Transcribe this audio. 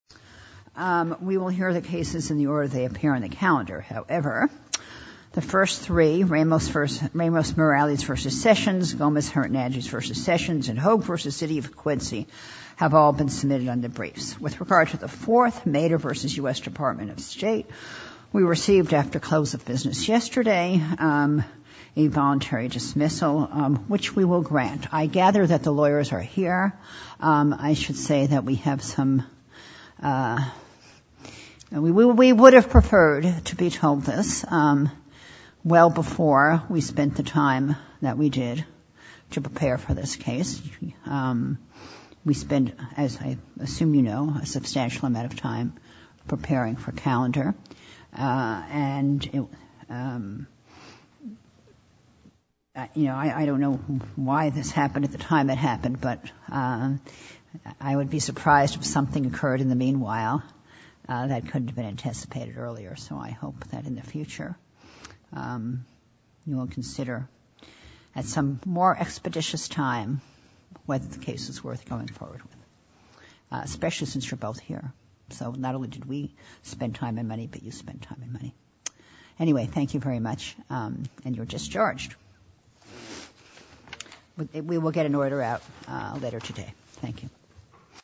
We will hear the cases in the order they appear on the calendar. However, the first three, Ramos-Morales v. Sessions, Gomez-Hurton-Andrews v. Sessions, and Hogue v. City of Quincy, have all been submitted under briefs. With regard to the fourth, Mehta v. U.S. Department of State, we received, after close of business yesterday, a voluntary dismissal, which we will grant. I gather that the lawyers are here. I should say that we have some—we would have preferred to be told this well before we spent the time that we did to prepare for this case. We spent, as I assume you know, a substantial amount of time preparing for calendar. And, you know, I don't know why this happened at the time it happened, but I would be surprised if something occurred in the meanwhile that couldn't have been anticipated earlier. So I hope that in the future you will consider, at some more expeditious time, whether the case is worth going forward with, especially since you're both here. So not only did we spend time and money, but you spent time and money. Anyway, thank you very much. And you're discharged. We will get an order out later today. Thank you.